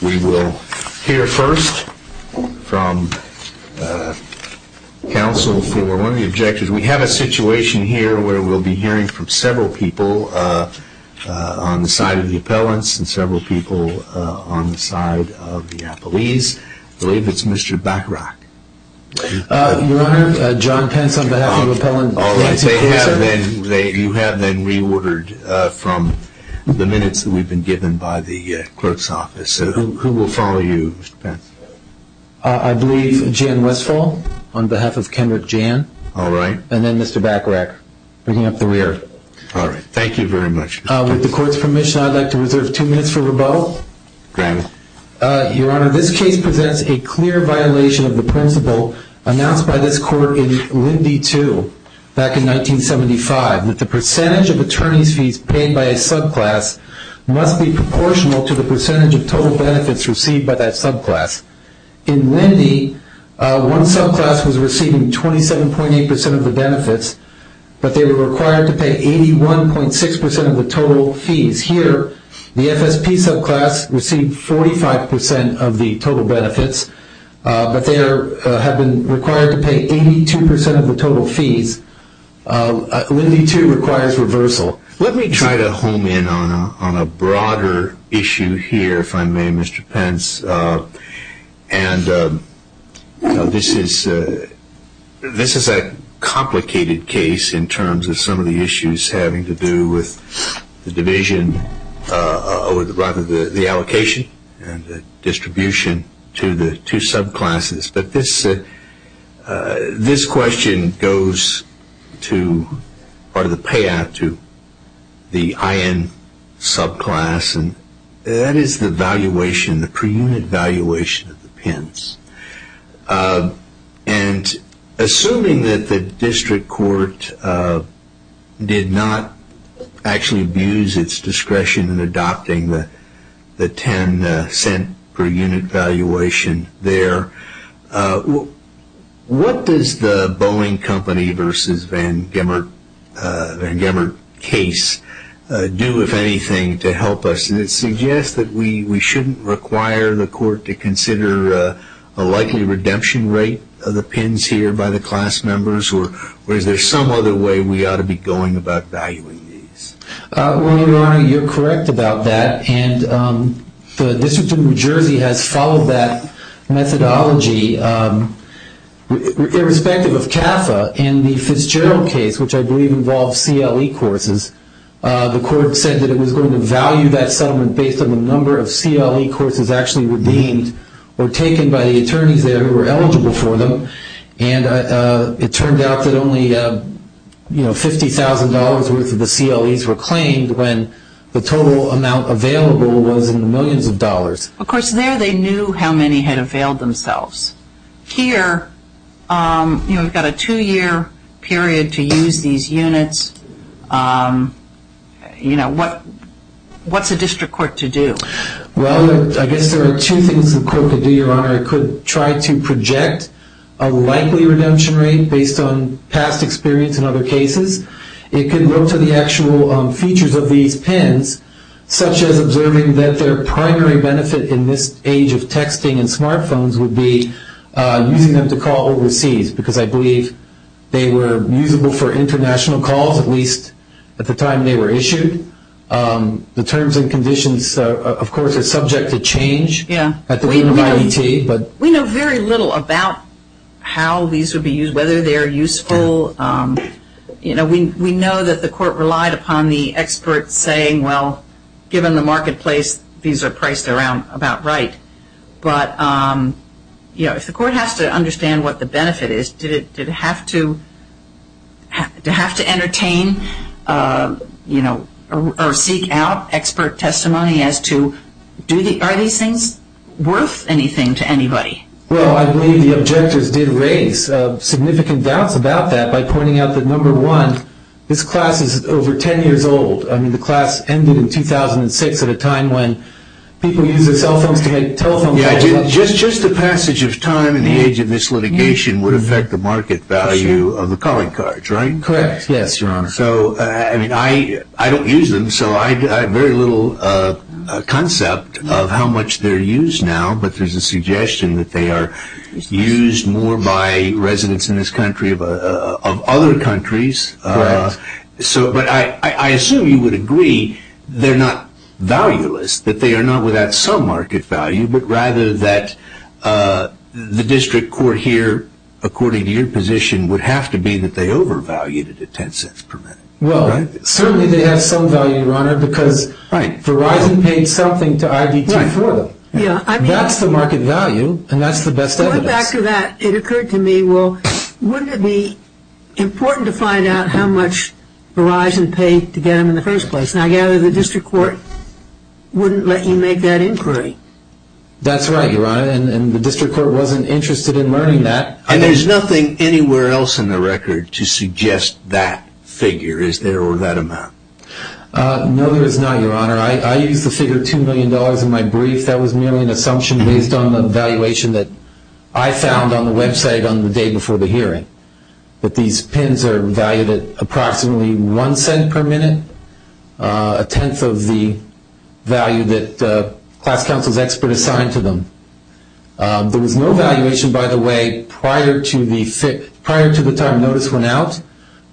We will hear first from counsel for one of the objectives. We have a situation here where we'll be hearing from several people on the side of the appellants and several people on the side of the appellees. I believe it's Mr. Bachrach. Your Honor, John Pence on behalf of the appellant. You have been reordered from the minutes that we've been given by the court's office. Who will follow you, Mr. Pence? I believe Jan Westphal on behalf of Kendrick Jan. All right. And then Mr. Bachrach, bringing up the rear. All right. Thank you very much. With the court's permission, I'd like to reserve two minutes for rebuttal. Granted. Your Honor, this case presents a clear violation of the principle announced by this court in Lindy 2 back in 1975, that the percentage of attorney's fees paid by a subclass must be proportional to the percentage of total benefits received by that subclass. In Lindy, one subclass was receiving 27.8% of the benefits, but they were required to pay 81.6% of the total fees. Here, the FSP subclass received 45% of the total benefits, but they have been required to pay 82% of the total fees. Lindy 2 requires reversal. Let me try to home in on a broader issue here, if I may, Mr. Pence. And this is a complicated case in terms of some of the issues having to do with the allocation and the distribution to the two subclasses. But this question goes to part of the payout to the IN subclass, and that is the valuation, the per unit valuation of the Pence. And assuming that the district court did not actually abuse its discretion in adopting the 10 cent per unit valuation there, what does the Boeing Company versus Van Gemert case do, if anything, to help us? And it suggests that we shouldn't require the court to consider a likely redemption rate of the Pence here by the class members, or is there some other way we ought to be going about valuing these? Well, Your Honor, you're correct about that, and the District of New Jersey has followed that methodology. Irrespective of CAFA, in the Fitzgerald case, which I believe involves CLE courses, the court said that it was going to value that settlement based on the number of CLE courses actually redeemed or taken by the attorneys there who were eligible for them. And it turned out that only $50,000 worth of the CLEs were claimed when the total amount available was in the millions of dollars. Of course, there they knew how many had availed themselves. Here, we've got a two-year period to use these units. What's a district court to do? Well, I guess there are two things the court could do, Your Honor. It could try to project a likely redemption rate based on past experience in other cases. It could go to the actual features of these pens, such as observing that their primary benefit in this age of texting and smartphones would be using them to call overseas, because I believe they were usable for international calls, at least at the time they were issued. The terms and conditions, of course, are subject to change at the end of IET. We know very little about how these would be used, whether they are useful. We know that the court relied upon the experts saying, well, given the marketplace, these are priced about right. But if the court has to understand what the benefit is, did it have to entertain or seek out expert testimony as to are these things worth anything to anybody? Well, I believe the objectors did raise significant doubts about that by pointing out that, number one, this class is over 10 years old. I mean, the class ended in 2006 at a time when people used their cell phones to make telephone calls. Just the passage of time in the age of this litigation would affect the market value of the calling cards, right? Correct, yes, Your Honor. So, I mean, I don't use them, so I have very little concept of how much they're used now, but there's a suggestion that they are used more by residents in this country of other countries. Correct. But I assume you would agree they're not valueless, that they are not without some market value, but rather that the district court here, according to your position, would have to be that they overvalued it at $0.10 per minute, right? Well, certainly they have some value, Your Honor, because Verizon paid something to IDT for them. That's the market value, and that's the best evidence. After that, it occurred to me, well, wouldn't it be important to find out how much Verizon paid to get them in the first place? And I gather the district court wouldn't let you make that inquiry. That's right, Your Honor, and the district court wasn't interested in learning that. And there's nothing anywhere else in the record to suggest that figure is there or that amount? No, there is not, Your Honor. I used the figure $2 million in my brief. That was merely an assumption based on the valuation that I found on the website on the day before the hearing, that these pins are valued at approximately $0.01 per minute, a tenth of the value that class counsel's expert assigned to them. There was no valuation, by the way, prior to the time notice went out,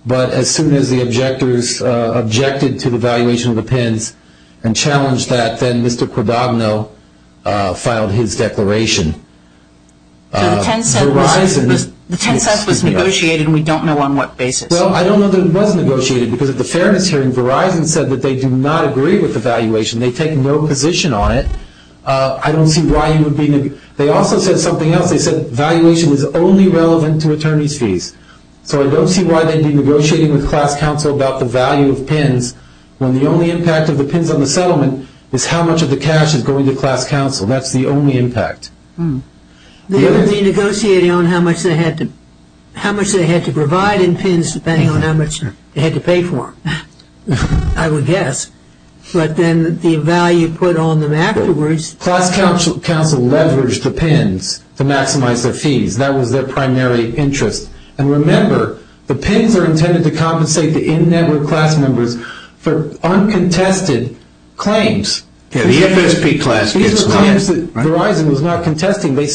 but as soon as the objectors objected to the valuation of the pins and challenged that, then Mr. Quodogno filed his declaration. So the 10 cents was negotiated, and we don't know on what basis. Well, I don't know that it was negotiated, because at the fairness hearing, Verizon said that they do not agree with the valuation. They take no position on it. I don't see why you would be – they also said something else. They said valuation was only relevant to attorney's fees. So I don't see why they'd be negotiating with class counsel about the value of pins when the only impact of the pins on the settlement is how much of the cash is going to class counsel. That's the only impact. They would be negotiating on how much they had to provide in pins, depending on how much they had to pay for them, I would guess. But then the value put on them afterwards – Class counsel leveraged the pins to maximize their fees. That was their primary interest. And remember, the pins are intended to compensate the in-network class members for uncontested claims. Yeah, the FSP class gets nine, right? These were claims that Verizon was not contesting. They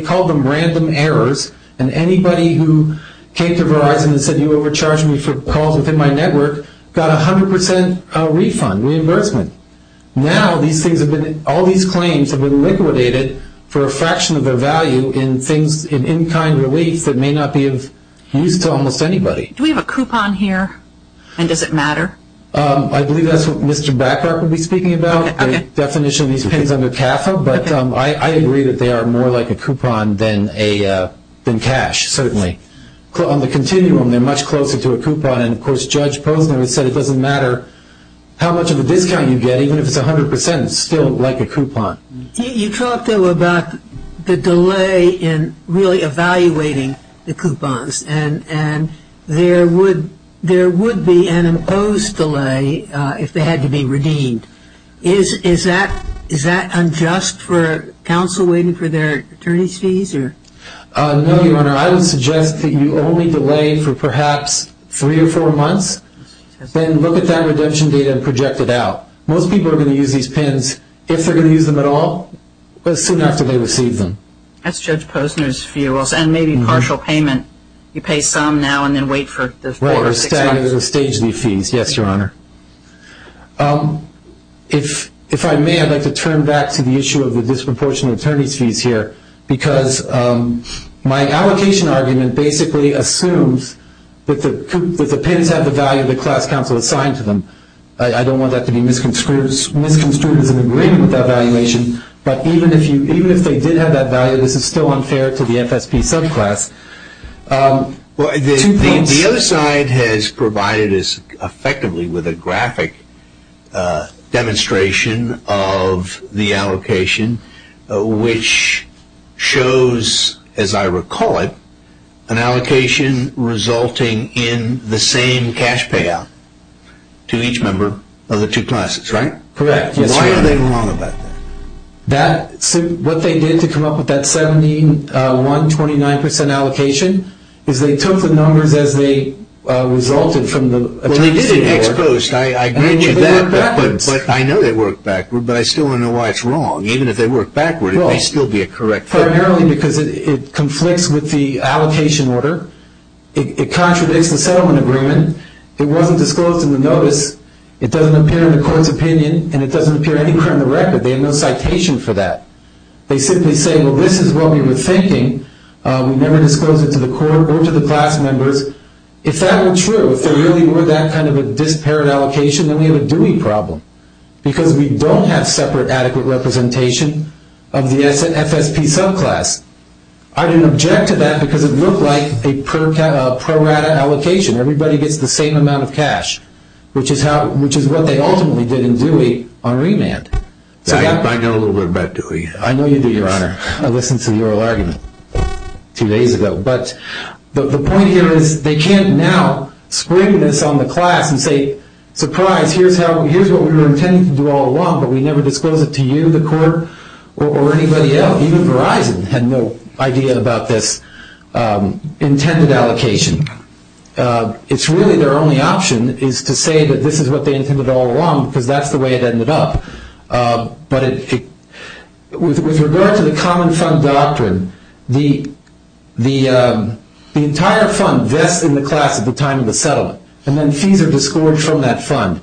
called them random errors, and anybody who came to Verizon and said you overcharged me for calls within my network got 100% refund, reimbursement. Now all these claims have been liquidated for a fraction of their value in in-kind reliefs that may not be of use to almost anybody. Do we have a coupon here, and does it matter? I believe that's what Mr. Baccarp will be speaking about, the definition of these pins under CAFA. But I agree that they are more like a coupon than cash, certainly. On the continuum, they're much closer to a coupon. And, of course, Judge Posner has said it doesn't matter how much of a discount you get. Even if it's 100%, it's still like a coupon. You talked, though, about the delay in really evaluating the coupons, and there would be an imposed delay if they had to be redeemed. Is that unjust for counsel waiting for their attorney's fees? No, Your Honor. I would suggest that you only delay for perhaps three or four months, then look at that redemption data and project it out. Most people are going to use these pins, if they're going to use them at all, as soon after they receive them. That's Judge Posner's view. And maybe partial payment, you pay some now and then wait for the four or six months. Right, or the stage leave fees. Yes, Your Honor. If I may, I'd like to turn back to the issue of the disproportionate attorney's fees here, because my allocation argument basically assumes that the pins have the value that class counsel assigned to them. I don't want that to be misconstrued as an agreement with that valuation, but even if they did have that value, this is still unfair to the FSP subclass. The other side has provided us effectively with a graphic demonstration of the allocation, which shows, as I recall it, an allocation resulting in the same cash payout to each member of the two classes, right? Correct, yes, Your Honor. Why are they wrong about that? What they did to come up with that 71, 29 percent allocation is they took the numbers as they resulted from the attorney's fee report. Well, they did in ex post. I agree with you on that, but I know they worked backwards, but I still don't know why it's wrong. Even if they worked backward, it may still be a correct thing. Primarily because it conflicts with the allocation order. It contradicts the settlement agreement. It wasn't disclosed in the notice. It doesn't appear in the court's opinion, and it doesn't appear anywhere in the record. They have no citation for that. They simply say, well, this is what we were thinking. We never disclosed it to the court or to the class members. If that were true, if there really were that kind of a disparate allocation, then we have a dewey problem, because we don't have separate adequate representation of the FSP subclass. I didn't object to that because it looked like a prorata allocation. Everybody gets the same amount of cash, which is what they ultimately did in dewey on remand. I know a little bit about dewey. I know you do, Your Honor. I listened to the oral argument two days ago. But the point here is they can't now spring this on the class and say, surprise, here's what we were intending to do all along, but we never disclosed it to you, the court, or anybody else. Even Verizon had no idea about this intended allocation. It's really their only option is to say that this is what they intended all along, because that's the way it ended up. With regard to the common fund doctrine, the entire fund vests in the class at the time of the settlement, and then fees are disgorged from that fund.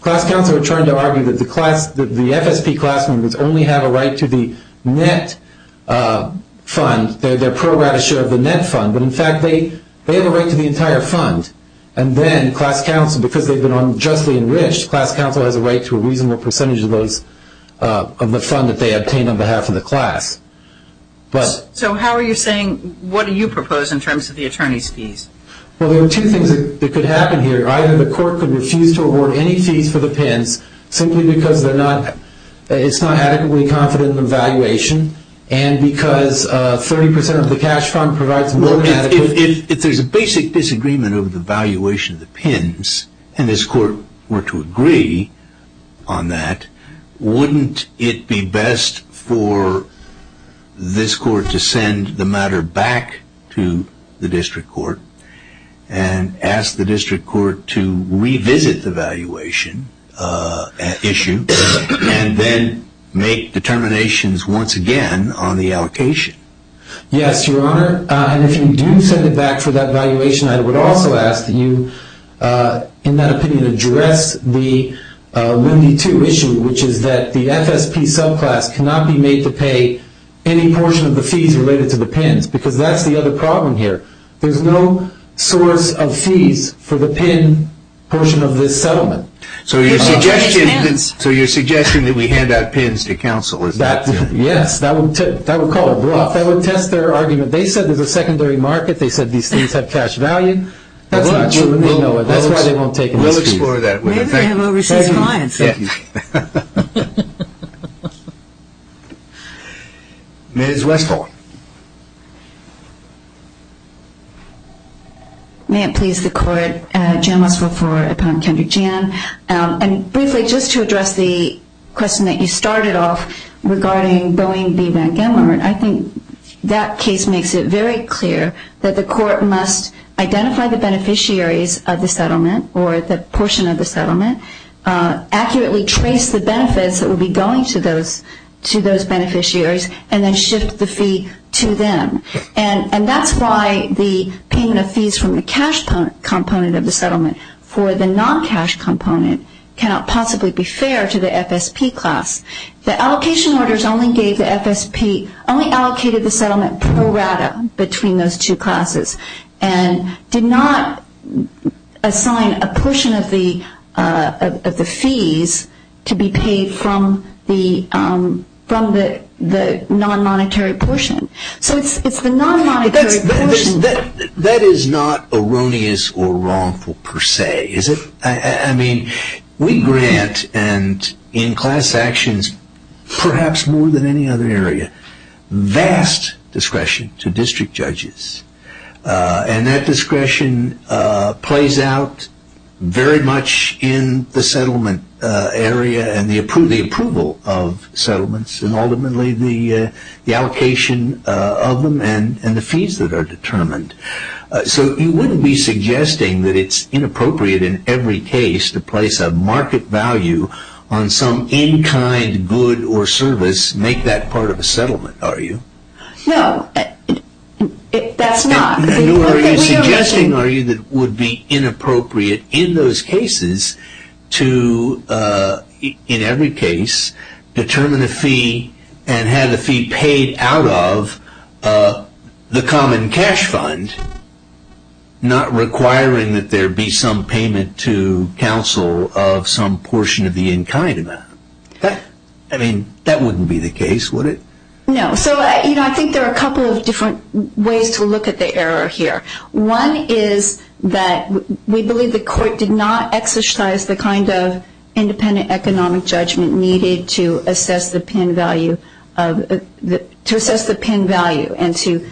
Class counsel are trying to argue that the FSP class members only have a right to the net fund, their prorata share of the net fund, but in fact they have a right to the entire fund. And then class counsel, because they've been unjustly enriched, class counsel has a right to a reasonable percentage of the fund that they obtain on behalf of the class. So how are you saying, what do you propose in terms of the attorneys' fees? Well, there are two things that could happen here. Either the court could refuse to award any fees for the PIMS simply because they're not, it's not adequately confident in the valuation, and because 30 percent of the cash fund provides more than adequate. If there's a basic disagreement over the valuation of the PIMS, and this court were to agree on that, wouldn't it be best for this court to send the matter back to the district court and ask the district court to revisit the valuation issue, and then make determinations once again on the allocation? Yes, Your Honor. And if you do send it back for that valuation, I would also ask that you, in that opinion, address the Wendy 2 issue, which is that the FSP subclass cannot be made to pay any portion of the fees related to the PIMS, because that's the other problem here. There's no source of fees for the PIMS portion of this settlement. So you're suggesting that we hand out PIMS to counsel? Yes, that would test their argument. They said there's a secondary market. They said these things have cash value. That's not true. Let me know. That's why they won't take it. We'll explore that. We have overseas clients. Thank you. Ms. Westphal. May it please the court. Jan Westphal, 4, upon Kendra Jan. Briefly, just to address the question that you started off regarding Boeing v. Van Gendler, I think that case makes it very clear that the court must identify the beneficiaries of the settlement or the portion of the settlement, accurately trace the benefits that would be going to those beneficiaries, and then shift the fee to them. And that's why the payment of fees from the cash component of the settlement for the non-cash component cannot possibly be fair to the FSP class. The allocation orders only allocated the settlement pro rata between those two classes and did not assign a portion of the fees to be paid from the non-monetary portion. So it's the non-monetary portion. That is not erroneous or wrongful per se, is it? I mean, we grant, and in class actions perhaps more than any other area, vast discretion to district judges. And that discretion plays out very much in the settlement area and the approval of settlements and ultimately the allocation of them and the fees that are determined. So you wouldn't be suggesting that it's inappropriate in every case to place a market value on some in-kind good or service, make that part of a settlement, are you? No, that's not. Are you suggesting, are you, that it would be inappropriate in those cases to, in every case, determine a fee and have the fee paid out of the common cash fund, not requiring that there be some payment to counsel of some portion of the in-kind amount? I mean, that wouldn't be the case, would it? No. So, you know, I think there are a couple of different ways to look at the error here. One is that we believe the court did not exercise the kind of independent economic judgment needed to assess the pin value and to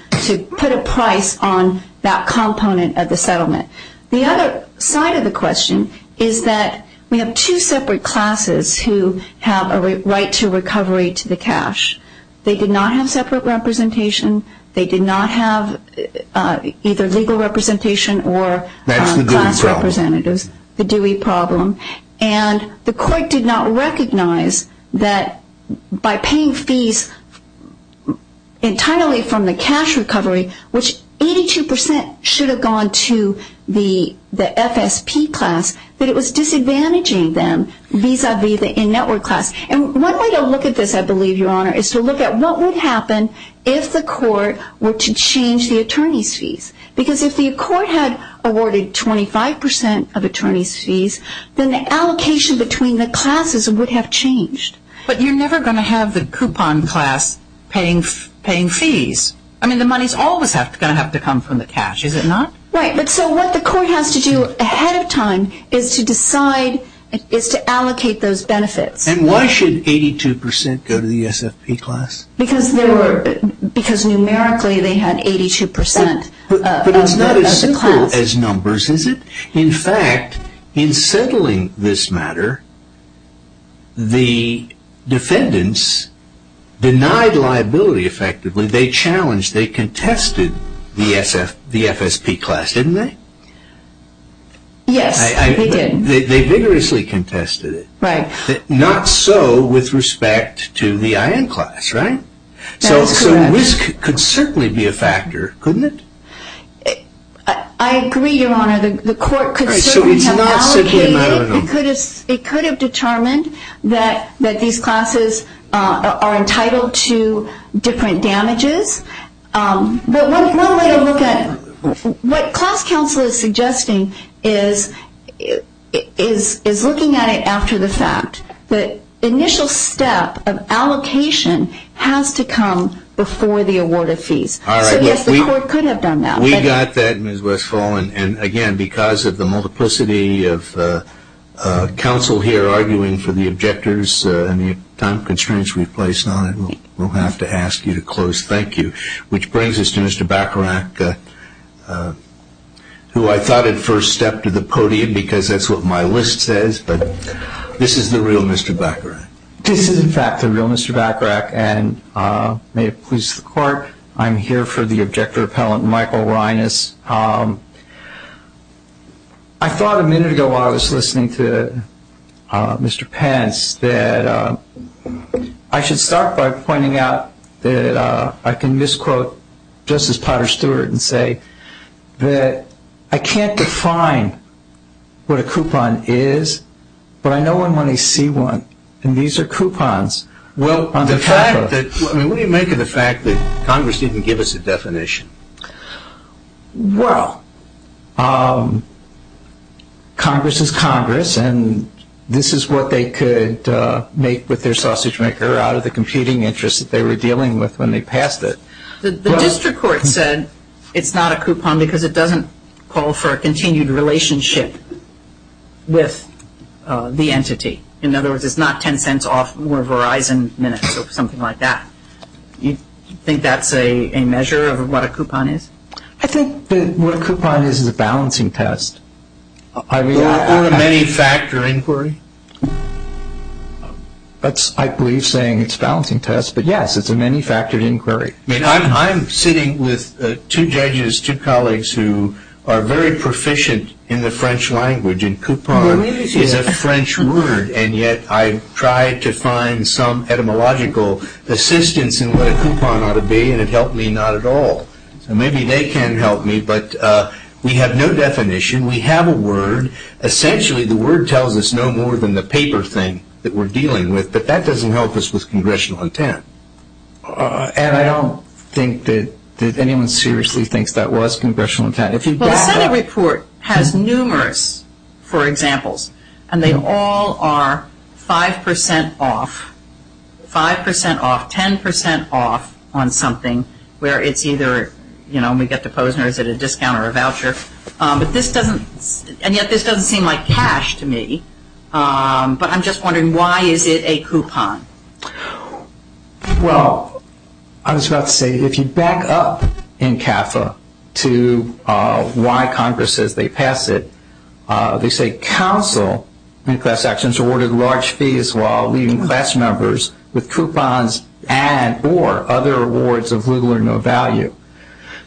put a price on that component of the settlement. The other side of the question is that we have two separate classes who have a right to recovery to the cash. They did not have separate representation. They did not have either legal representation or class representatives. That's the Dewey problem. The Dewey problem. And the court did not recognize that by paying fees entirely from the cash recovery, which 82 percent should have gone to the FSP class, that it was disadvantaging them vis-à-vis the in-network class. And one way to look at this, I believe, Your Honor, is to look at what would happen if the court were to change the attorney's fees. Because if the court had awarded 25 percent of attorney's fees, then the allocation between the classes would have changed. But you're never going to have the coupon class paying fees. I mean, the money's always going to have to come from the cash, is it not? Right. But so what the court has to do ahead of time is to decide, is to allocate those benefits. And why should 82 percent go to the SFP class? Because numerically they had 82 percent as a class. But it's not as simple as numbers, is it? In fact, in settling this matter, the defendants denied liability effectively. They challenged, they contested the FSP class, didn't they? Yes, they did. They vigorously contested it. Right. Not so with respect to the IN class, right? That is correct. So risk could certainly be a factor, couldn't it? I agree, Your Honor. The court could certainly have allocated. It could have determined that these classes are entitled to different damages. But one way to look at it, what class counsel is suggesting is looking at it after the fact. The initial step of allocation has to come before the award of fees. So, yes, the court could have done that. We got that, Ms. Westphal. And, again, because of the multiplicity of counsel here arguing for the objectors and the time constraints we've placed on it, we'll have to ask you to close. Thank you. Which brings us to Mr. Bacharach, who I thought had first stepped to the podium, because that's what my list says, but this is the real Mr. Bacharach. This is, in fact, the real Mr. Bacharach. And may it please the court, I'm here for the objector appellant, Michael Reines. I thought a minute ago, while I was listening to Mr. Pence, that I should start by pointing out that I can misquote Justice Potter Stewart and say that I can't define what a coupon is, but I know I'm going to see one. And these are coupons. What do you make of the fact that Congress didn't give us a definition? Well, Congress is Congress, and this is what they could make with their sausage maker out of the competing interests that they were dealing with when they passed it. The district court said it's not a coupon because it doesn't call for a continued relationship with the entity. In other words, it's not ten cents off more Verizon minutes or something like that. You think that's a measure of what a coupon is? I think that what a coupon is is a balancing test. Or a many-factor inquiry. That's, I believe, saying it's a balancing test, but yes, it's a many-factored inquiry. I'm sitting with two judges, two colleagues, who are very proficient in the French language, and coupon is a French word, and yet I tried to find some etymological assistance in what a coupon ought to be, and it helped me not at all. Maybe they can help me, but we have no definition. We have a word. Essentially, the word tells us no more than the paper thing that we're dealing with, but that doesn't help us with congressional intent. And I don't think that anyone seriously thinks that was congressional intent. Well, the Senate report has numerous, for examples, and they all are 5% off, 5% off, 10% off on something where it's either, you know, and we get to Posner, is it a discount or a voucher? And yet this doesn't seem like cash to me, but I'm just wondering why is it a coupon? Well, I was about to say, if you back up in CAFA to why Congress says they pass it, they say counsel in class actions awarded large fees while leaving class members with coupons and or other awards of little or no value.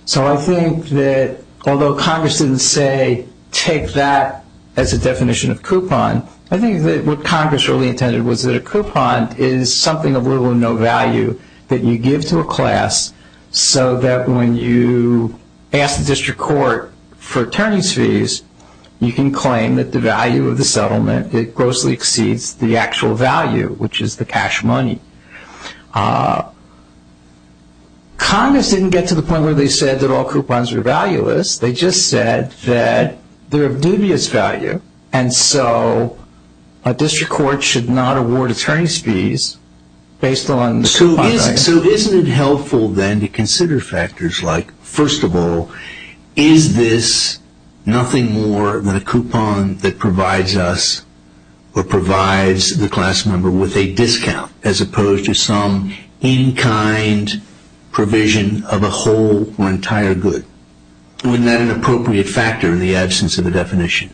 So I think that although Congress didn't say take that as a definition of coupon, I think that what Congress really intended was that a coupon is something of little or no value that you give to a class so that when you ask the district court for attorney's fees, you can claim that the value of the settlement, it grossly exceeds the actual value, which is the cash money. Congress didn't get to the point where they said that all coupons were valueless. They just said that they're of dubious value. And so a district court should not award attorney's fees based on the coupon value. So isn't it helpful then to consider factors like, first of all, is this nothing more than a coupon that provides us or provides the class member with a discount as opposed to some in-kind provision of a whole or entire good? Isn't that an appropriate factor in the absence of a definition?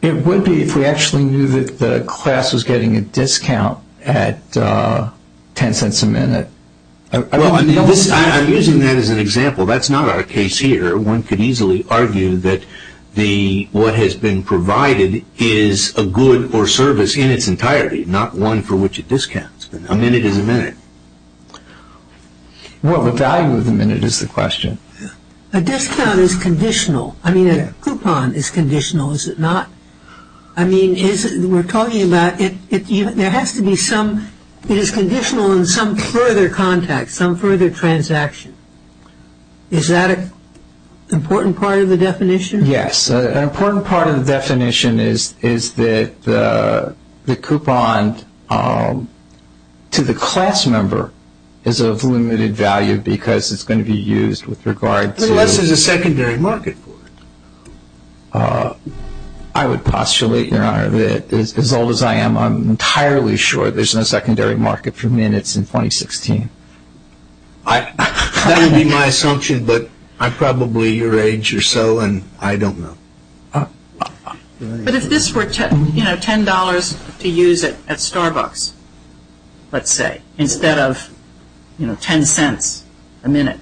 It would be if we actually knew that the class was getting a discount at $0.10 a minute. I'm using that as an example. That's not our case here. One could easily argue that what has been provided is a good or service in its entirety, not one for which it discounts. A minute is a minute. Well, the value of the minute is the question. A discount is conditional. I mean, a coupon is conditional, is it not? I mean, we're talking about there has to be some – it is conditional in some further context, some further transaction. Is that an important part of the definition? Yes. An important part of the definition is that the coupon to the class member is of limited value because it's going to be used with regard to – Unless there's a secondary market for it. I would postulate, Your Honor, that as old as I am, I'm entirely sure there's no secondary market for minutes in 2016. That would be my assumption, but I'm probably your age or so, and I don't know. But if this were $10 to use at Starbucks, let's say, instead of $0.10 a minute,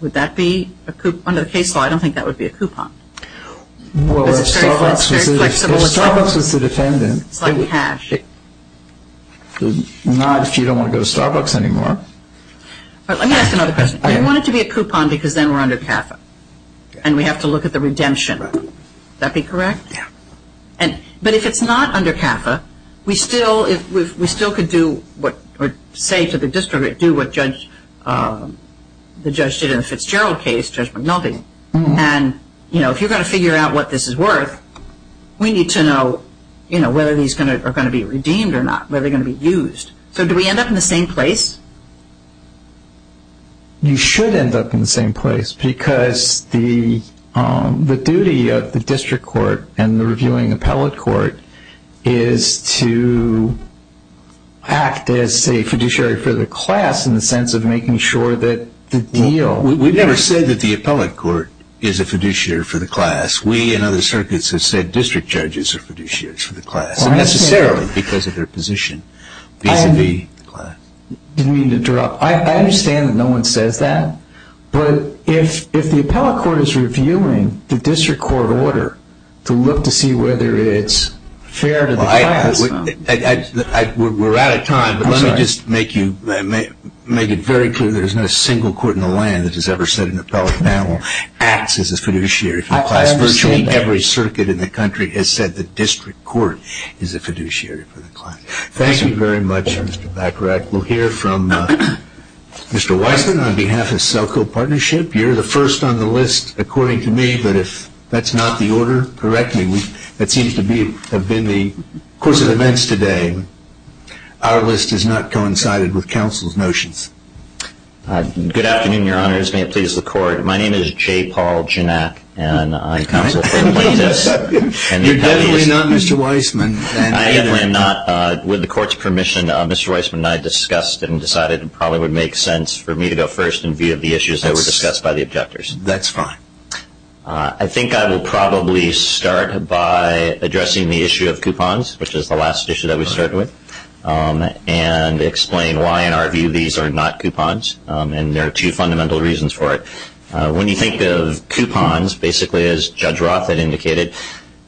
would that be – under the case law, I don't think that would be a coupon. Well, if Starbucks was the defendant. It's like cash. Not if you don't want to go to Starbucks anymore. Let me ask another question. We want it to be a coupon because then we're under CAFA, and we have to look at the redemption. Would that be correct? Yeah. But if it's not under CAFA, we still could do what – or say to the district, do what the judge did in the Fitzgerald case, Judge McNulty. And, you know, if you're going to figure out what this is worth, we need to know whether these are going to be redeemed or not, whether they're going to be used. So do we end up in the same place? You should end up in the same place because the duty of the district court and the reviewing appellate court is to act as a fiduciary for the class in the sense of making sure that the deal – We've never said that the appellate court is a fiduciary for the class. We and other circuits have said district judges are fiduciaries for the class. Necessarily because of their position vis-à-vis the class. I understand that no one says that, but if the appellate court is reviewing the district court order to look to see whether it's fair to the class – We're out of time, but let me just make it very clear that there's not a single court in the land that has ever said an appellate panel acts as a fiduciary for the class. Virtually every circuit in the country has said the district court is a fiduciary for the class. Thank you very much, Mr. Bacharach. We'll hear from Mr. Weissman on behalf of Selco Partnership. You're the first on the list, according to me, but if that's not the order, correct me. That seems to have been the course of events today. Our list has not coincided with counsel's notions. Good afternoon, Your Honors. May it please the court. My name is J. Paul Janak, and I counsel for the plaintiffs. You're definitely not Mr. Weissman. I definitely am not. With the court's permission, Mr. Weissman and I discussed and decided it probably would make sense for me to go first in view of the issues that were discussed by the objectors. That's fine. I think I will probably start by addressing the issue of coupons, which is the last issue that we started with, and explain why, in our view, these are not coupons, and there are two fundamental reasons for it. When you think of coupons, basically, as Judge Roth had indicated,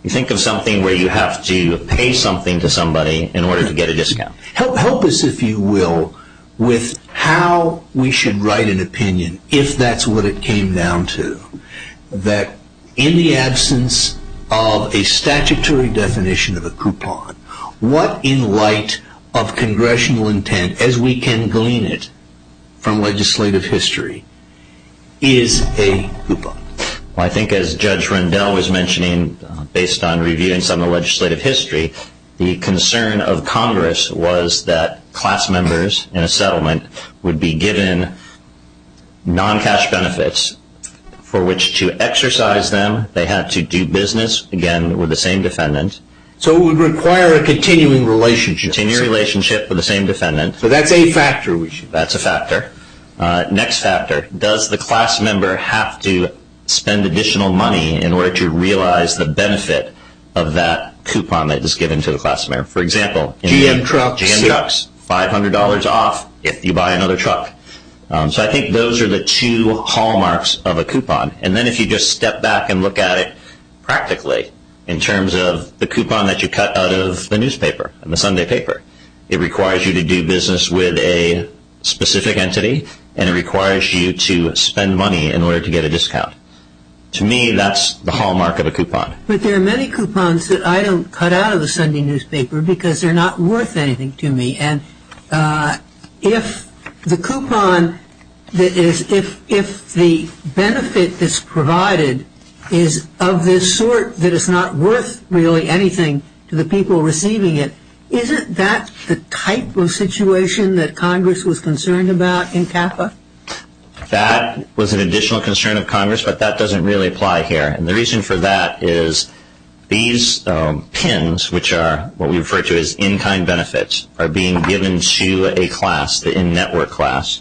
you think of something where you have to pay something to somebody in order to get a discount. Help us, if you will, with how we should write an opinion, if that's what it came down to, that in the absence of a statutory definition of a coupon, what in light of congressional intent, as we can glean it from legislative history, is a coupon? Well, I think as Judge Rendell was mentioning, based on reviewing some of the legislative history, the concern of Congress was that class members in a settlement would be given non-cash benefits for which to exercise them. They had to do business, again, with the same defendant. So it would require a continuing relationship. A continuing relationship with the same defendant. So that's a factor. That's a factor. Next factor, does the class member have to spend additional money in order to realize the benefit of that coupon that is given to the class member? For example, GM trucks, $500 off if you buy another truck. So I think those are the two hallmarks of a coupon. And then if you just step back and look at it practically, in terms of the coupon that you cut out of the newspaper, the Sunday paper, it requires you to do business with a specific entity and it requires you to spend money in order to get a discount. To me, that's the hallmark of a coupon. But there are many coupons that I don't cut out of the Sunday newspaper because they're not worth anything to me. And if the benefit that's provided is of this sort that is not worth really anything to the people receiving it, isn't that the type of situation that Congress was concerned about in CAFA? That was an additional concern of Congress, but that doesn't really apply here. And the reason for that is these PINs, which are what we refer to as in-kind benefits, are being given to a class, the in-network class,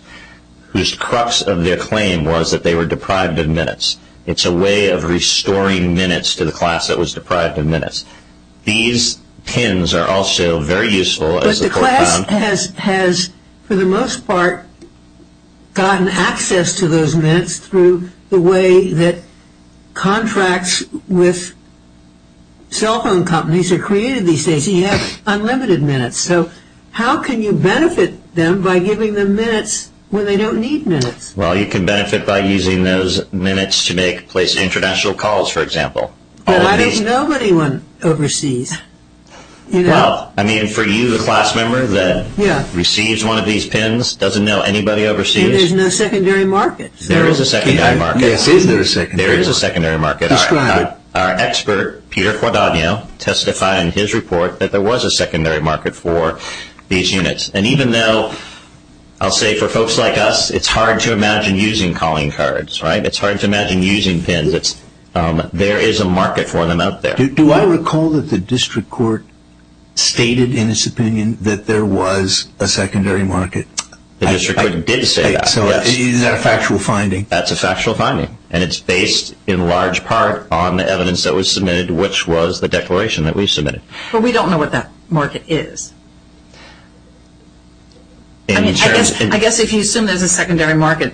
whose crux of their claim was that they were deprived of minutes. It's a way of restoring minutes to the class that was deprived of minutes. These PINs are also very useful as a coupon. Congress has, for the most part, gotten access to those minutes through the way that contracts with cell phone companies are created these days. You have unlimited minutes. So how can you benefit them by giving them minutes when they don't need minutes? Well, you can benefit by using those minutes to place international calls, for example. But why does nobody want overseas? Well, I mean, for you, the class member that receives one of these PINs, doesn't know anybody overseas. And there's no secondary market. There is a secondary market. Yes, there is a secondary market. There is a secondary market. Describe it. Our expert, Peter Quadagno, testified in his report that there was a secondary market for these units. And even though, I'll say for folks like us, it's hard to imagine using calling cards, right? It's hard to imagine using PINs. There is a market for them out there. Do I recall that the district court stated in its opinion that there was a secondary market? The district court did say that, yes. So is that a factual finding? That's a factual finding. And it's based, in large part, on the evidence that was submitted, which was the declaration that we submitted. But we don't know what that market is. I guess if you assume there's a secondary market,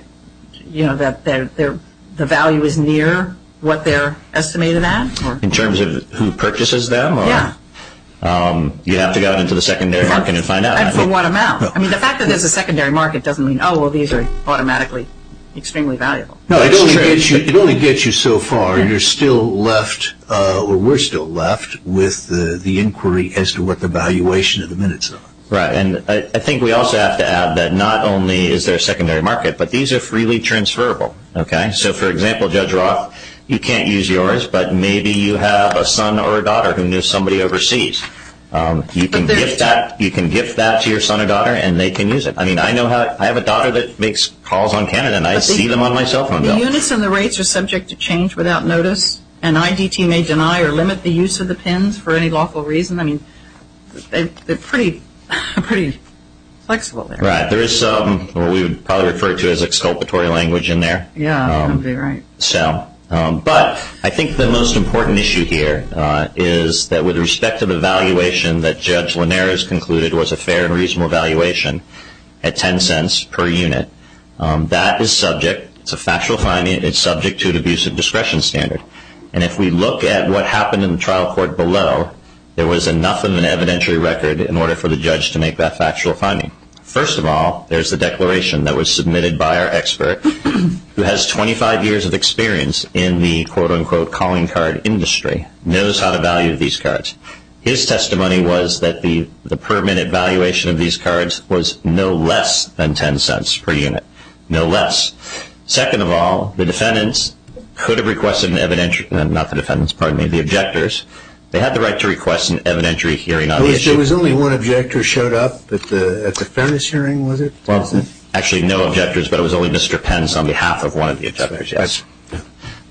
you know, that the value is near what they're estimated at? In terms of who purchases them? Yeah. You have to go into the secondary market and find out. And for what amount? I mean, the fact that there's a secondary market doesn't mean, oh, well, these are automatically extremely valuable. No, it only gets you so far. You're still left, or we're still left with the inquiry as to what the valuation of the units are. Right. And I think we also have to add that not only is there a secondary market, but these are freely transferable. Okay. So, for example, Judge Roth, you can't use yours, but maybe you have a son or a daughter who knew somebody overseas. You can gift that to your son or daughter, and they can use it. I mean, I have a daughter that makes calls on Canada, and I see them on my cell phone bill. The units and the rates are subject to change without notice, and IDT may deny or limit the use of the PINs for any lawful reason. I mean, they're pretty flexible there. Right. There is some what we would probably refer to as exculpatory language in there. Yeah, that would be right. But I think the most important issue here is that with respect to the valuation that Judge Linares concluded was a fair and reasonable valuation at $0.10 per unit, that is subject. It's a factual finding. It's subject to an abusive discretion standard. And if we look at what happened in the trial court below, there was enough of an evidentiary record in order for the judge to make that factual finding. First of all, there's the declaration that was submitted by our expert, who has 25 years of experience in the, quote, unquote, calling card industry, knows how to value these cards. His testimony was that the permanent valuation of these cards was no less than $0.10 per unit, no less. Second of all, the defendants could have requested an evidentiary, not the defendants, pardon me, the objectors. They had the right to request an evidentiary hearing on the issue. There was only one objector showed up at the fairness hearing, was it? Well, actually, no objectors, but it was only Mr. Pence on behalf of one of the objectors, yes.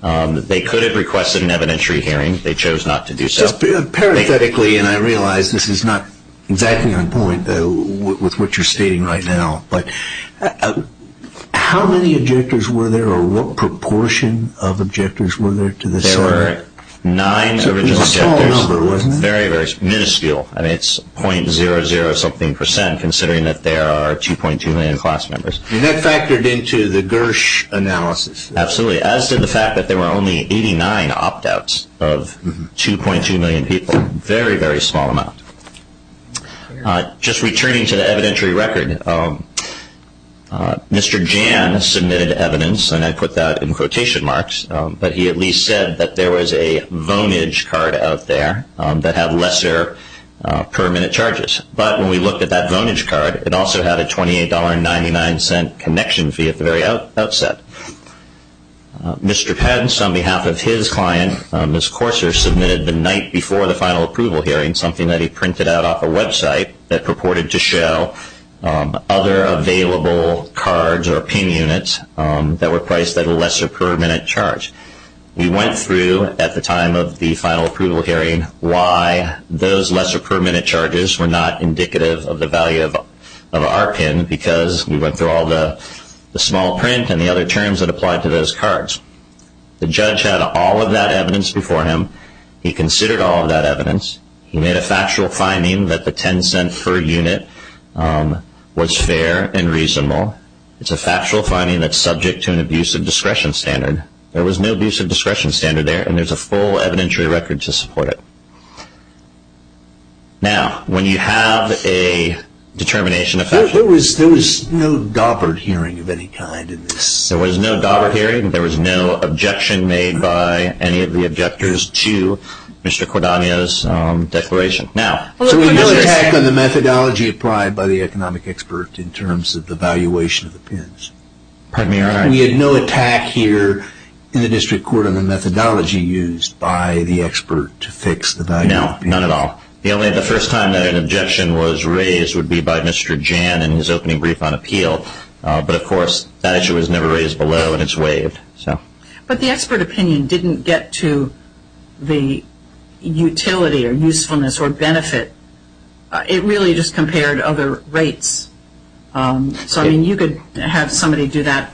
They could have requested an evidentiary hearing. They chose not to do so. Just parenthetically, and I realize this is not exactly on point with what you're stating right now, but how many objectors were there or what proportion of objectors were there to the sum? There were nine original objectors. It was a small number, wasn't it? Very, very minuscule. I mean, it's .00 something percent, considering that there are 2.2 million class members. And that factored into the Gersh analysis. Absolutely, as did the fact that there were only 89 opt-outs of 2.2 million people, very, very small amount. Just returning to the evidentiary record, Mr. Jan submitted evidence, and I put that in quotation marks, but he at least said that there was a Vonage card out there that had lesser per-minute charges. But when we looked at that Vonage card, it also had a $28.99 connection fee at the very outset. Mr. Pence, on behalf of his client, Ms. Corser, submitted the night before the final approval hearing something that he printed out off a website that purported to show other available cards or pin units that were priced at a lesser per-minute charge. We went through, at the time of the final approval hearing, why those lesser per-minute charges were not indicative of the value of our pin because we went through all the small print and the other terms that applied to those cards. The judge had all of that evidence before him. He considered all of that evidence. He made a factual finding that the $0.10 per unit was fair and reasonable. It's a factual finding that's subject to an abuse of discretion standard. There was no abuse of discretion standard there, and there's a full evidentiary record to support it. Now, when you have a determination of factual… There was no Daubert hearing of any kind in this. There was no Daubert hearing. There was no objection made by any of the objectors to Mr. Cordanio's declaration. There was no attack on the methodology applied by the economic expert in terms of the valuation of the pins. We had no attack here in the district court on the methodology used by the expert to fix the value of the pins. No, none at all. The only other first time that an objection was raised would be by Mr. Jan in his opening brief on appeal. But, of course, that issue was never raised below and it's waived. But the expert opinion didn't get to the utility or usefulness or benefit. It really just compared other rates. So, I mean, you could have somebody do that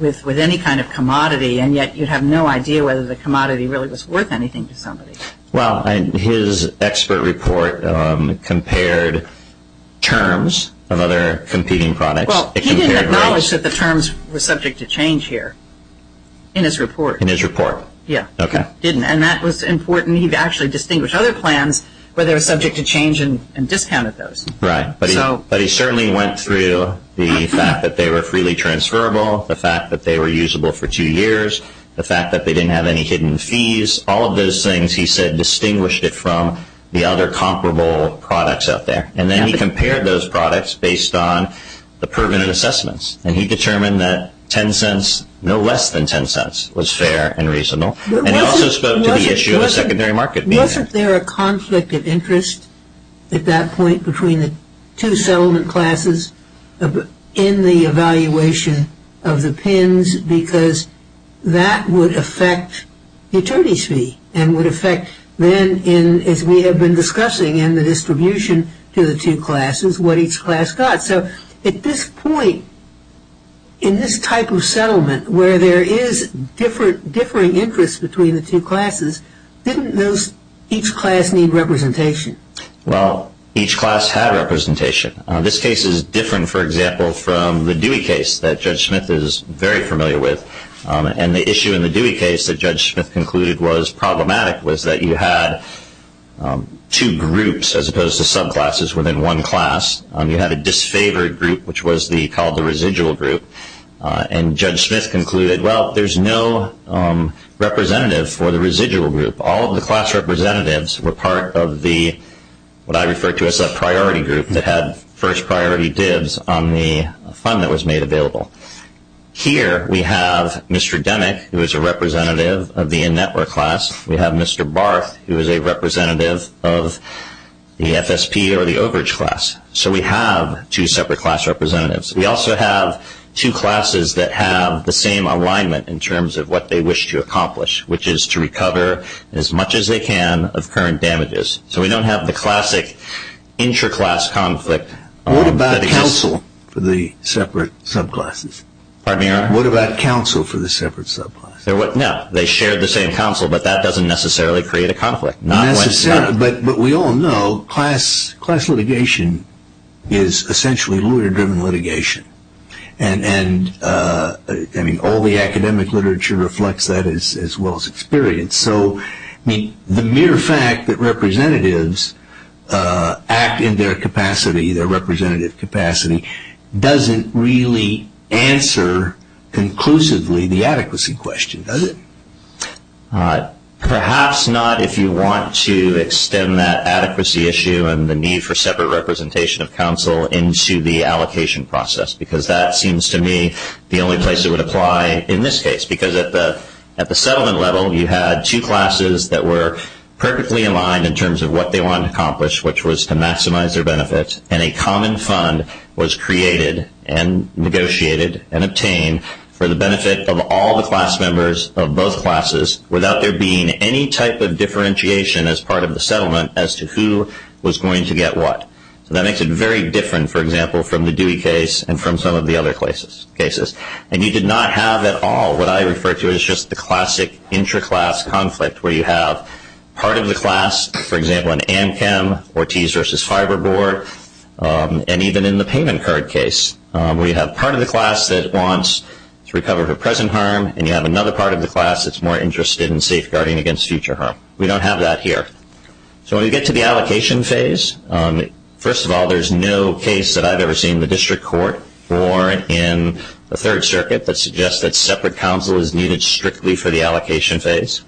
with any kind of commodity, and yet you'd have no idea whether the commodity really was worth anything to somebody. Well, his expert report compared terms of other competing products. Well, he didn't acknowledge that the terms were subject to change here in his report. In his report? Yeah. Okay. He didn't, and that was important. He actually distinguished other plans where they were subject to change and discounted those. Right. But he certainly went through the fact that they were freely transferable, the fact that they were usable for two years, the fact that they didn't have any hidden fees. All of those things, he said, distinguished it from the other comparable products out there. And then he compared those products based on the permanent assessments, and he determined that ten cents, no less than ten cents, was fair and reasonable. And he also spoke to the issue of secondary market. Wasn't there a conflict of interest at that point between the two settlement classes in the evaluation of the PINs because that would affect the attorneys' fee and would affect then, as we have been discussing in the distribution to the two classes, what each class got. So at this point, in this type of settlement where there is differing interest between the two classes, didn't each class need representation? Well, each class had representation. This case is different, for example, from the Dewey case that Judge Smith is very familiar with. And the issue in the Dewey case that Judge Smith concluded was problematic, was that you had two groups as opposed to subclasses within one class. You had a disfavored group, which was called the residual group. And Judge Smith concluded, well, there's no representative for the residual group. All of the class representatives were part of the, what I refer to as a priority group, that had first priority dibs on the fund that was made available. Here we have Mr. Demick, who is a representative of the in-network class. We have Mr. Barth, who is a representative of the FSP or the overage class. So we have two separate class representatives. We also have two classes that have the same alignment in terms of what they wish to accomplish, which is to recover as much as they can of current damages. So we don't have the classic intra-class conflict. What about counsel for the separate subclasses? What about counsel for the separate subclasses? No, they shared the same counsel, but that doesn't necessarily create a conflict. But we all know class litigation is essentially lawyer-driven litigation. And all the academic literature reflects that as well as experience. So the mere fact that representatives act in their capacity, their representative capacity, doesn't really answer conclusively the adequacy question, does it? Perhaps not if you want to extend that adequacy issue and the need for separate representation of counsel into the allocation process, because that seems to me the only place it would apply in this case. Because at the settlement level, you had two classes that were perfectly aligned in terms of what they wanted to accomplish, which was to maximize their benefits. And a common fund was created and negotiated and obtained for the benefit of all the class members of both classes without there being any type of differentiation as part of the settlement as to who was going to get what. So that makes it very different, for example, from the Dewey case and from some of the other cases. And you did not have at all what I refer to as just the classic intraclass conflict, where you have part of the class, for example, in AmChem, Ortiz versus Fiberboard, and even in the payment card case, where you have part of the class that wants to recover for present harm, and you have another part of the class that's more interested in safeguarding against future harm. We don't have that here. So when we get to the allocation phase, first of all, there's no case that I've ever seen in the district court or in the Third Circuit that suggests that separate counsel is needed strictly for the allocation phase.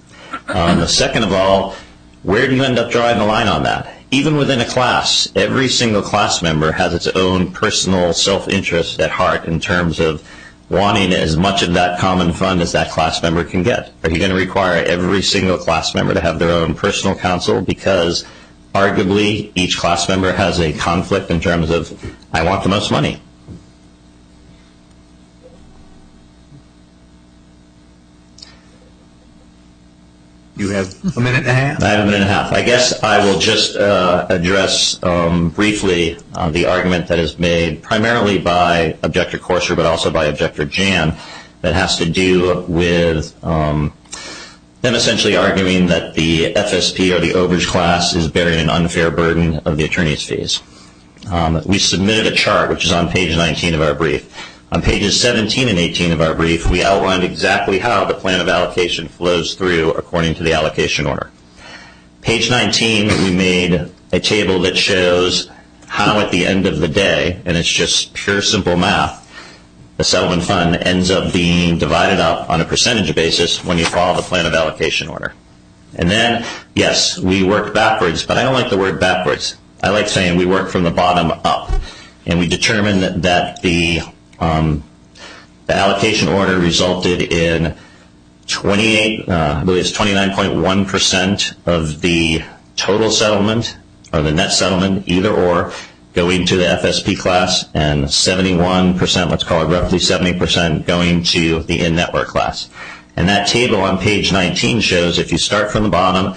Second of all, where do you end up drawing the line on that? Even within a class, every single class member has its own personal self-interest at heart in terms of wanting as much of that common fund as that class member can get. Are you going to require every single class member to have their own personal counsel? Because arguably, each class member has a conflict in terms of, I want the most money. You have a minute and a half. I have a minute and a half. I guess I will just address briefly the argument that is made primarily by Objector Courser but also by Objector Jan that has to do with them essentially arguing that the FSP or the overage class is bearing an unfair burden of the attorney's fees. We submitted a chart, which is on page 19 of our brief. On pages 17 and 18 of our brief, we outlined exactly how the plan of allocation flows through according to the allocation order. Page 19, we made a table that shows how at the end of the day, and it's just pure simple math, the settlement fund ends up being divided up on a percentage basis when you follow the plan of allocation order. And then, yes, we work backwards, but I don't like the word backwards. I like saying we work from the bottom up. And we determined that the allocation order resulted in 29.1% of the total settlement or the net settlement, either or, going to the FSP class and 71%, let's call it roughly 70%, going to the in-network class. And that table on page 19 shows if you start from the bottom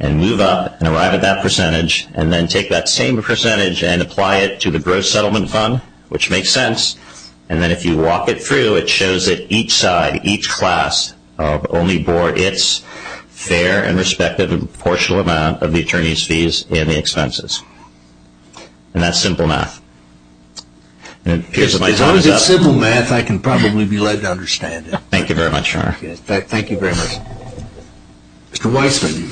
and move up and arrive at that percentage and then take that same percentage and apply it to the gross settlement fund, which makes sense, and then if you walk it through, it shows that each side, each class, only bore its fair and respective and proportional amount of the attorney's fees and the expenses. And that's simple math. As long as it's simple math, I can probably be led to understand it. Thank you very much. Thank you very much. Mr. Weissman.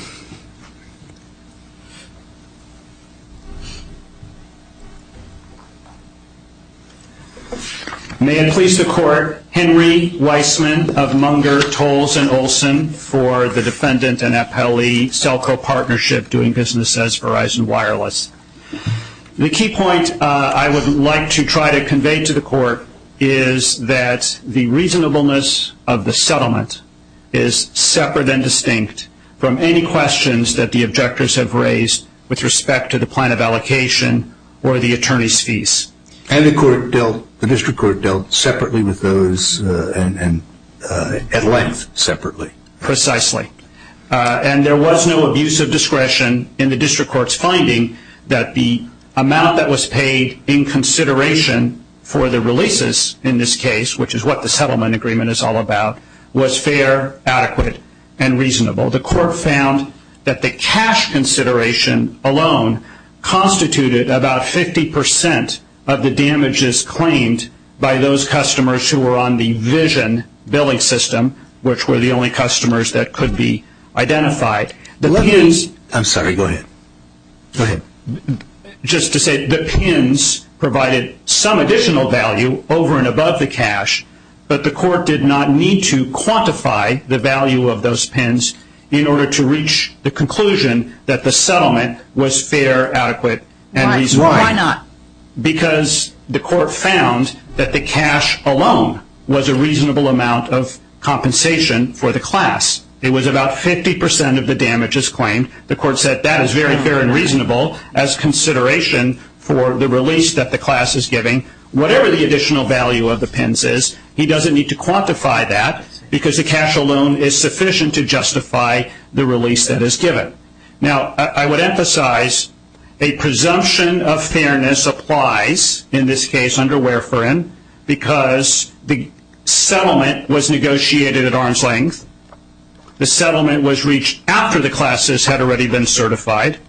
May it please the Court, Henry Weissman of Munger, Tolles, and Olson for the defendant and appellee Selco Partnership doing business as Verizon Wireless. The key point I would like to try to convey to the Court is that the reasonableness of the settlement is separate and distinct from any questions that the objectors have raised with respect to the plan of allocation or the attorney's fees. And the District Court dealt separately with those and at length separately. Precisely. And there was no abuse of discretion in the District Court's finding that the amount that was paid in consideration for the releases in this case, which is what the settlement agreement is all about, was fair, adequate, and reasonable. The Court found that the cash consideration alone constituted about 50% of the damages claimed by those customers who were on the Vision billing system, which were the only customers that could be identified. I'm sorry. Go ahead. Go ahead. Just to say the PINs provided some additional value over and above the cash, but the Court did not need to quantify the value of those PINs in order to reach the conclusion that the settlement was fair, adequate, and reasonable. Why not? Because the Court found that the cash alone was a reasonable amount of compensation for the class. It was about 50% of the damages claimed. The Court said that is very fair and reasonable as consideration for the release that the class is giving. Whatever the additional value of the PINs is, he doesn't need to quantify that because the cash alone is sufficient to justify the release that is given. Now, I would emphasize a presumption of fairness applies in this case under Ware for Inn because the settlement was negotiated at arm's length. The settlement was reached after the classes had already been certified.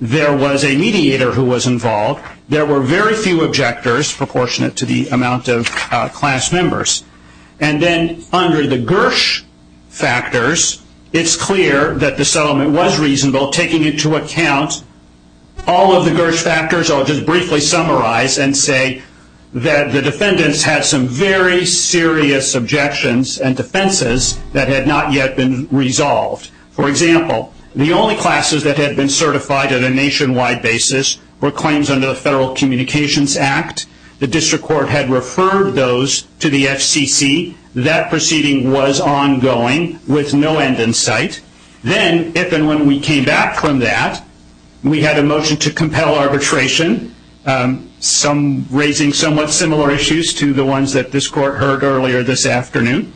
There was a mediator who was involved. There were very few objectors proportionate to the amount of class members. And then under the Gersh factors, it's clear that the settlement was reasonable, taking into account all of the Gersh factors. I'll just briefly summarize and say that the defendants had some very serious objections and defenses that had not yet been resolved. For example, the only classes that had been certified on a nationwide basis were claims under the Federal Communications Act. The District Court had referred those to the FCC. That proceeding was ongoing with no end in sight. Then, if and when we came back from that, we had a motion to compel arbitration, raising somewhat similar issues to the ones that this Court heard earlier this afternoon.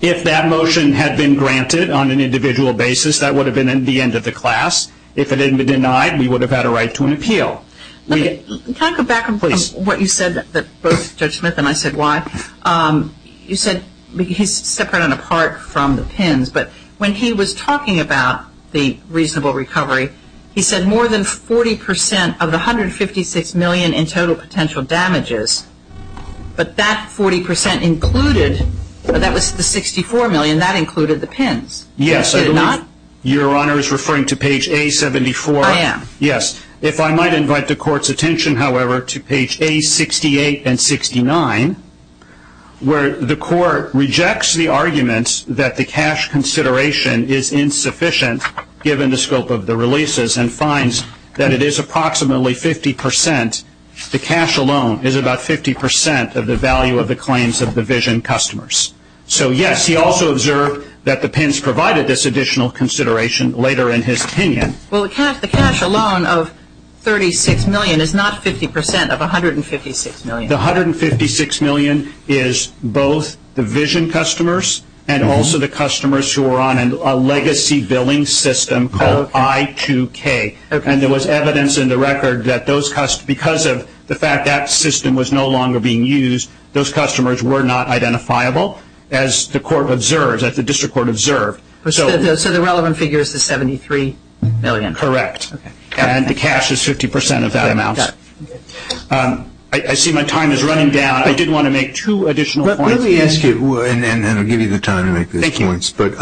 If that motion had been granted on an individual basis, that would have been the end of the class. If it had been denied, we would have had a right to an appeal. Can I go back on what you said that both Judge Smith and I said why? You said he's separate and apart from the pins, but when he was talking about the reasonable recovery, he said more than 40% of the $156 million in total potential damages, but that 40% included, that was the $64 million, that included the pins. Yes. Did it not? Your Honor is referring to page A-74. I am. Yes. If I might invite the Court's attention, however, to page A-68 and 69, where the Court rejects the arguments that the cash consideration is insufficient, given the scope of the releases, and finds that it is approximately 50%. The cash alone is about 50% of the value of the claims of the vision customers. So, yes, he also observed that the pins provided this additional consideration later in his opinion. Well, the cash alone of $36 million is not 50% of $156 million. The $156 million is both the vision customers and also the customers who are on a legacy billing system called I2K. Okay. And there was evidence in the record that because of the fact that system was no longer being used, those customers were not identifiable, as the District Court observed. So the relevant figure is the $73 million? Correct. Okay. And the cash is 50% of that amount. I see my time is running down. I did want to make two additional points. Let me ask you, and I'll give you the time to make those points, but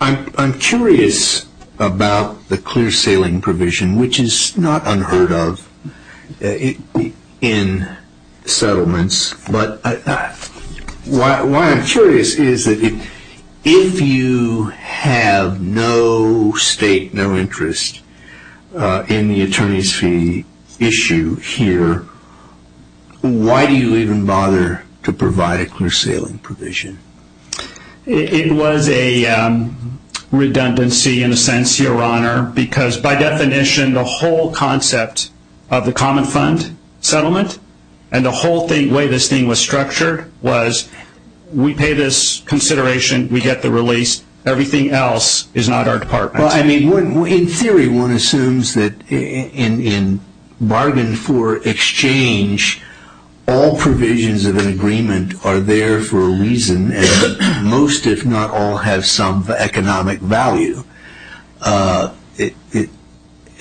I'm curious about the clear sailing provision, which is not unheard of in settlements. Why I'm curious is that if you have no state, no interest in the attorney's fee issue here, why do you even bother to provide a clear sailing provision? It was a redundancy in a sense, Your Honor, because by definition the whole concept of the common fund settlement and the whole way this thing was structured was we pay this consideration, we get the release, everything else is not our department's. Well, I mean, in theory one assumes that in bargain for exchange, all provisions of an agreement are there for a reason, and most, if not all, have some economic value.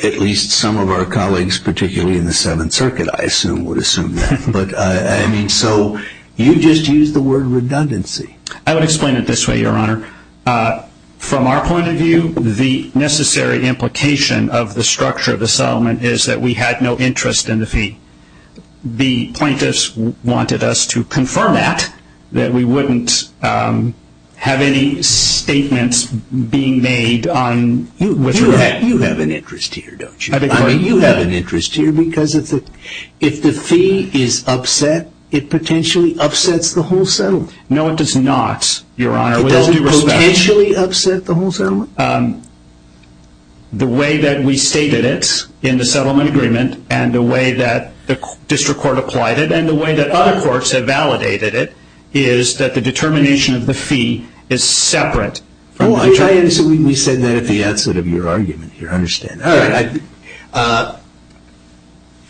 At least some of our colleagues, particularly in the Seventh Circuit, I assume would assume that. But, I mean, so you just used the word redundancy. I would explain it this way, Your Honor. From our point of view, the necessary implication of the structure of the settlement is that we had no interest in the fee. The plaintiffs wanted us to confirm that, that we wouldn't have any statements being made. You have an interest here, don't you? I mean, you have an interest here because if the fee is upset, it potentially upsets the whole settlement. No, it does not, Your Honor. Does it potentially upset the whole settlement? The way that we stated it in the settlement agreement and the way that the district court applied it and the way that other courts have validated it is that the determination of the fee is separate. Well, we said that at the outset of your argument here. I understand. All right.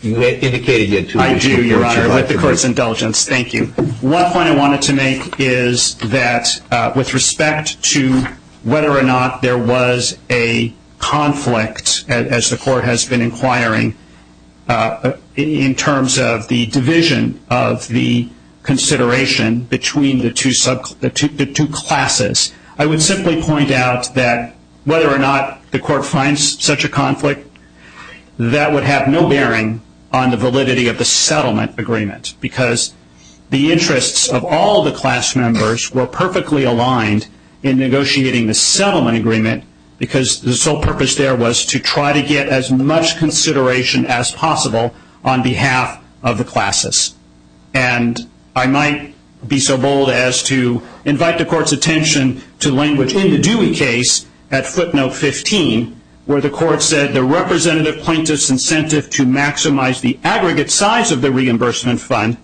Indicate again. I do, Your Honor, with the Court's indulgence. Thank you. One point I wanted to make is that with respect to whether or not there was a conflict, as the Court has been inquiring in terms of the division of the consideration between the two classes, I would simply point out that whether or not the Court finds such a conflict, that would have no bearing on the validity of the settlement agreement because the interests of all the class members were perfectly aligned in negotiating the settlement agreement because the sole purpose there was to try to get as much consideration as possible on behalf of the classes. And I might be so bold as to invite the Court's attention to language in the Dewey case at footnote 15 where the Court said the representative plaintiff's incentive to maximize the aggregate size of the reimbursement fund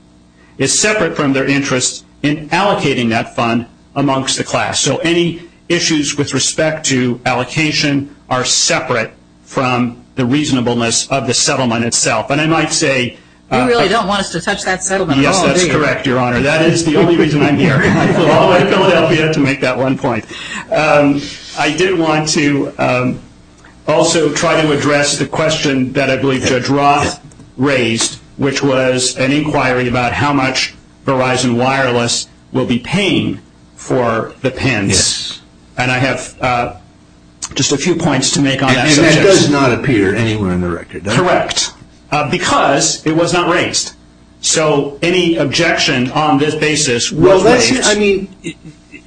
is separate from their interest in allocating that fund amongst the class. So any issues with respect to allocation are separate from the reasonableness of the settlement itself. And I might say- You really don't want us to touch that settlement at all, do you? Yes, that's correct, Your Honor. That is the only reason I'm here. I flew all the way to Philadelphia to make that one point. I did want to also try to address the question that I believe Judge Roth raised, which was an inquiry about how much Verizon Wireless will be paying for the pens. And I have just a few points to make on that subject. And that does not appear anywhere in the record, does it? Correct. Because it was not raised. So any objection on this basis was raised. Well,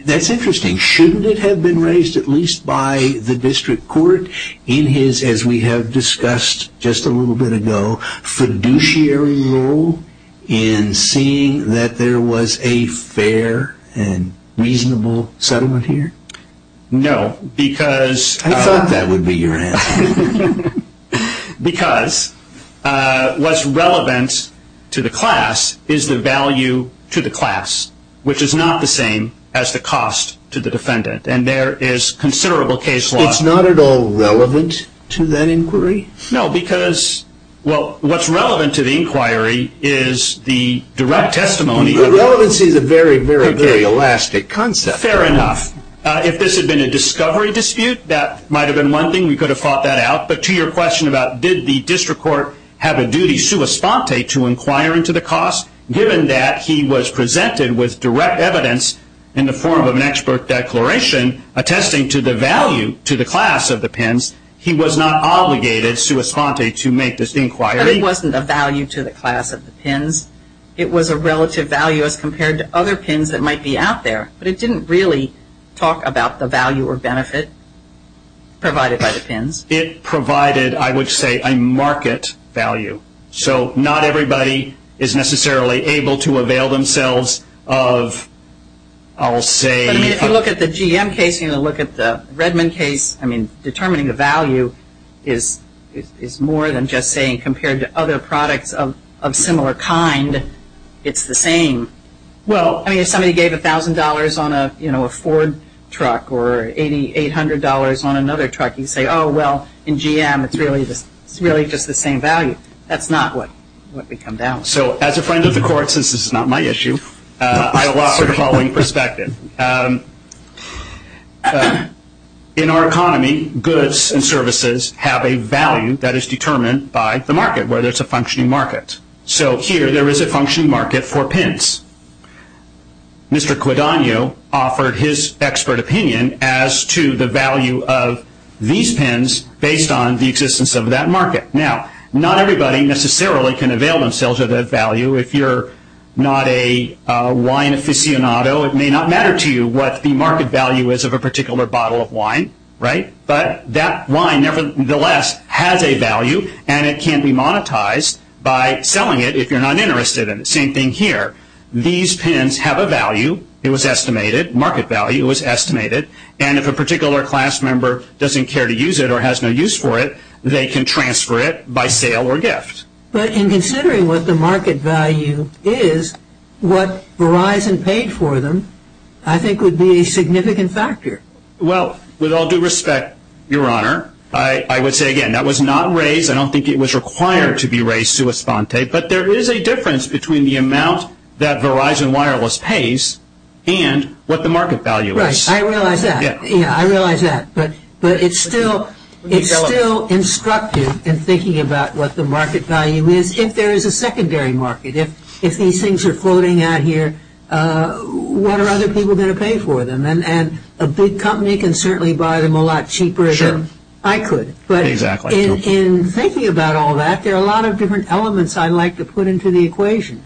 that's interesting. Shouldn't it have been raised at least by the district court in his, as we have discussed just a little bit ago, fiduciary role in seeing that there was a fair and reasonable settlement here? No, because- I thought that would be your answer. Because what's relevant to the class is the value to the class, which is not the same as the cost to the defendant. And there is considerable case law- It's not at all relevant to that inquiry? No, because what's relevant to the inquiry is the direct testimony- Relevance is a very, very, very elastic concept. Fair enough. If this had been a discovery dispute, that might have been one thing. We could have thought that out. But to your question about did the district court have a duty sua sponte to inquire into the cost, given that he was presented with direct evidence in the form of an expert declaration attesting to the value to the class of the pins, he was not obligated sua sponte to make this inquiry- But it wasn't a value to the class of the pins. It was a relative value as compared to other pins that might be out there. But it didn't really talk about the value or benefit provided by the pins. It provided, I would say, a market value. So not everybody is necessarily able to avail themselves of, I'll say- If you look at the GM case and you look at the Redmond case, determining the value is more than just saying compared to other products of similar kind, it's the same. Well, I mean, if somebody gave $1,000 on a Ford truck or $8,800 on another truck, you'd say, oh, well, in GM it's really just the same value. That's not what we come down to. So as a friend of the court, since this is not my issue, I allow the following perspective. In our economy, goods and services have a value that is determined by the market, whether it's a functioning market. So here there is a functioning market for pins. Mr. Quidagno offered his expert opinion as to the value of these pins based on the existence of that market. Now, not everybody necessarily can avail themselves of that value. If you're not a wine aficionado, it may not matter to you what the market value is of a particular bottle of wine, right? But that wine nevertheless has a value, and it can be monetized by selling it if you're not interested in it. Same thing here. These pins have a value. It was estimated. Market value was estimated. And if a particular class member doesn't care to use it or has no use for it, they can transfer it by sale or gift. But in considering what the market value is, what Verizon paid for them I think would be a significant factor. Well, with all due respect, Your Honor, I would say, again, that was not raised. I don't think it was required to be raised sui sponte. But there is a difference between the amount that Verizon Wireless pays and what the market value is. Right. I realize that. Yeah, I realize that. But it's still instructive in thinking about what the market value is if there is a secondary market. If these things are floating out here, what are other people going to pay for them? And a big company can certainly buy them a lot cheaper. Sure. I could. Exactly. But in thinking about all that, there are a lot of different elements I'd like to put into the equation.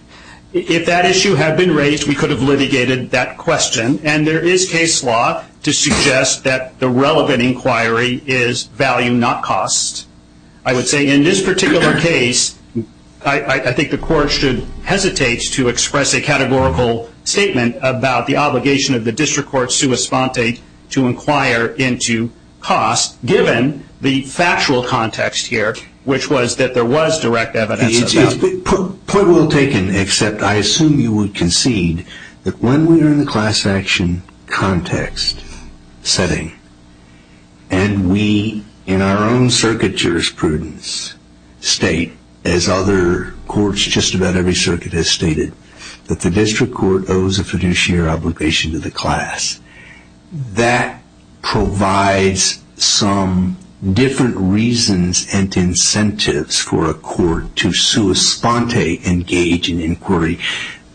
If that issue had been raised, we could have litigated that question. And there is case law to suggest that the relevant inquiry is value, not cost. I would say in this particular case, I think the Court should hesitate to express a categorical statement about the obligation of the district court sui sponte to inquire into cost, given the factual context here, which was that there was direct evidence of that. Point well taken, except I assume you would concede that when we are in the class action context setting and we, in our own circuit jurisprudence, state, as other courts, just about every circuit has stated, that the district court owes a fiduciary obligation to the class. That provides some different reasons and incentives for a court to sui sponte engage in inquiry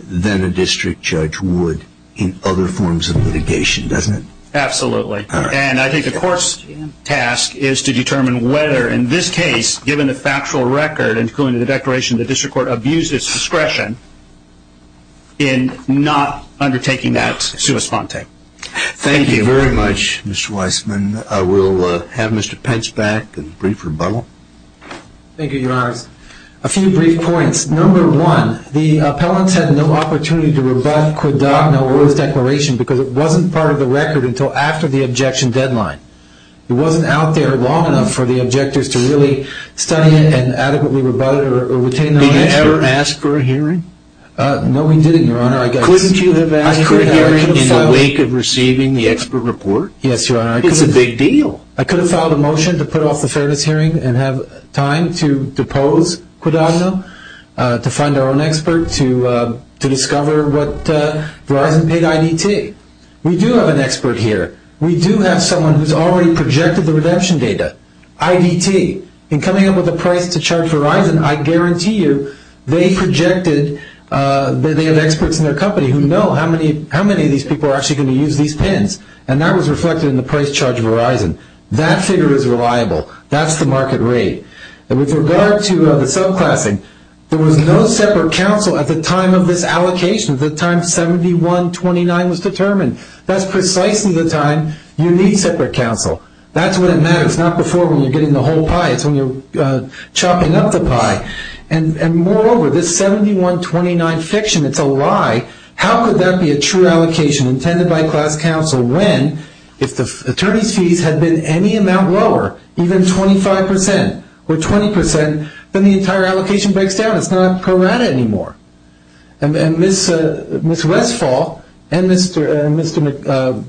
than a district judge would in other forms of litigation, doesn't it? Absolutely. And I think the Court's task is to determine whether, in this case, given the factual record, including the declaration that the district court abused its discretion in not undertaking that sui sponte. Thank you very much, Mr. Weissman. We'll have Mr. Pence back and brief rebuttal. Thank you, Your Honor. A few brief points. Number one, the appellants had no opportunity to rebut Codogno or his declaration because it wasn't part of the record until after the objection deadline. It wasn't out there long enough for the objectors to really study it and adequately rebut it or retain it. Did you ever ask for a hearing? No, we didn't, Your Honor. Couldn't you have asked for a hearing in the wake of receiving the expert report? Yes, Your Honor. It's a big deal. I could have filed a motion to put off the fairness hearing and have time to depose Codogno, to find our own expert, to discover what Verizon paid IDT. We do have an expert here. We do have someone who's already projected the redemption data, IDT. In coming up with a price to charge Verizon, I guarantee you they projected that they have experts in their company who know how many of these people are actually going to use these PINs, and that was reflected in the price charge of Verizon. That figure is reliable. That's the market rate. With regard to the subclassing, there was no separate counsel at the time of this allocation, at the time 71-29 was determined. That's precisely the time you need separate counsel. That's when it matters. It's not before when you're getting the whole pie. It's when you're chopping up the pie. And moreover, this 71-29 fiction, it's a lie. How could that be a true allocation intended by class counsel when, if the attorney's fees had been any amount lower, even 25% or 20%, then the entire allocation breaks down. It's not a piranha anymore. And Ms. Westfall and Mr.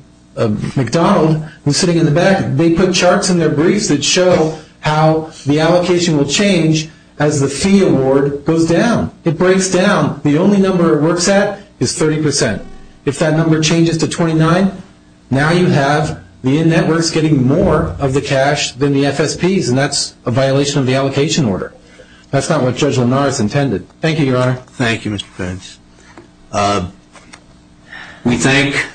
McDonald, who's sitting in the back, they put charts in their briefs that show how the allocation will change as the fee award goes down. It breaks down. The only number it works at is 30%. If that number changes to 29, now you have the in-networks getting more of the cash than the FSPs, and that's a violation of the allocation order. That's not what Judge Linares intended. Thank you, Your Honor. Thank you, Mr. Pence. We thank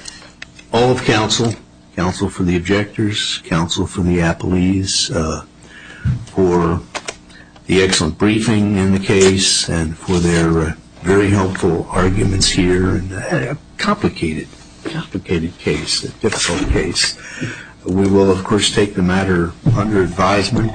all of counsel, counsel for the objectors, counsel for the appellees, for the excellent briefing in the case and for their very helpful arguments here. A complicated, complicated case, a difficult case. We will, of course, take the matter under advisement.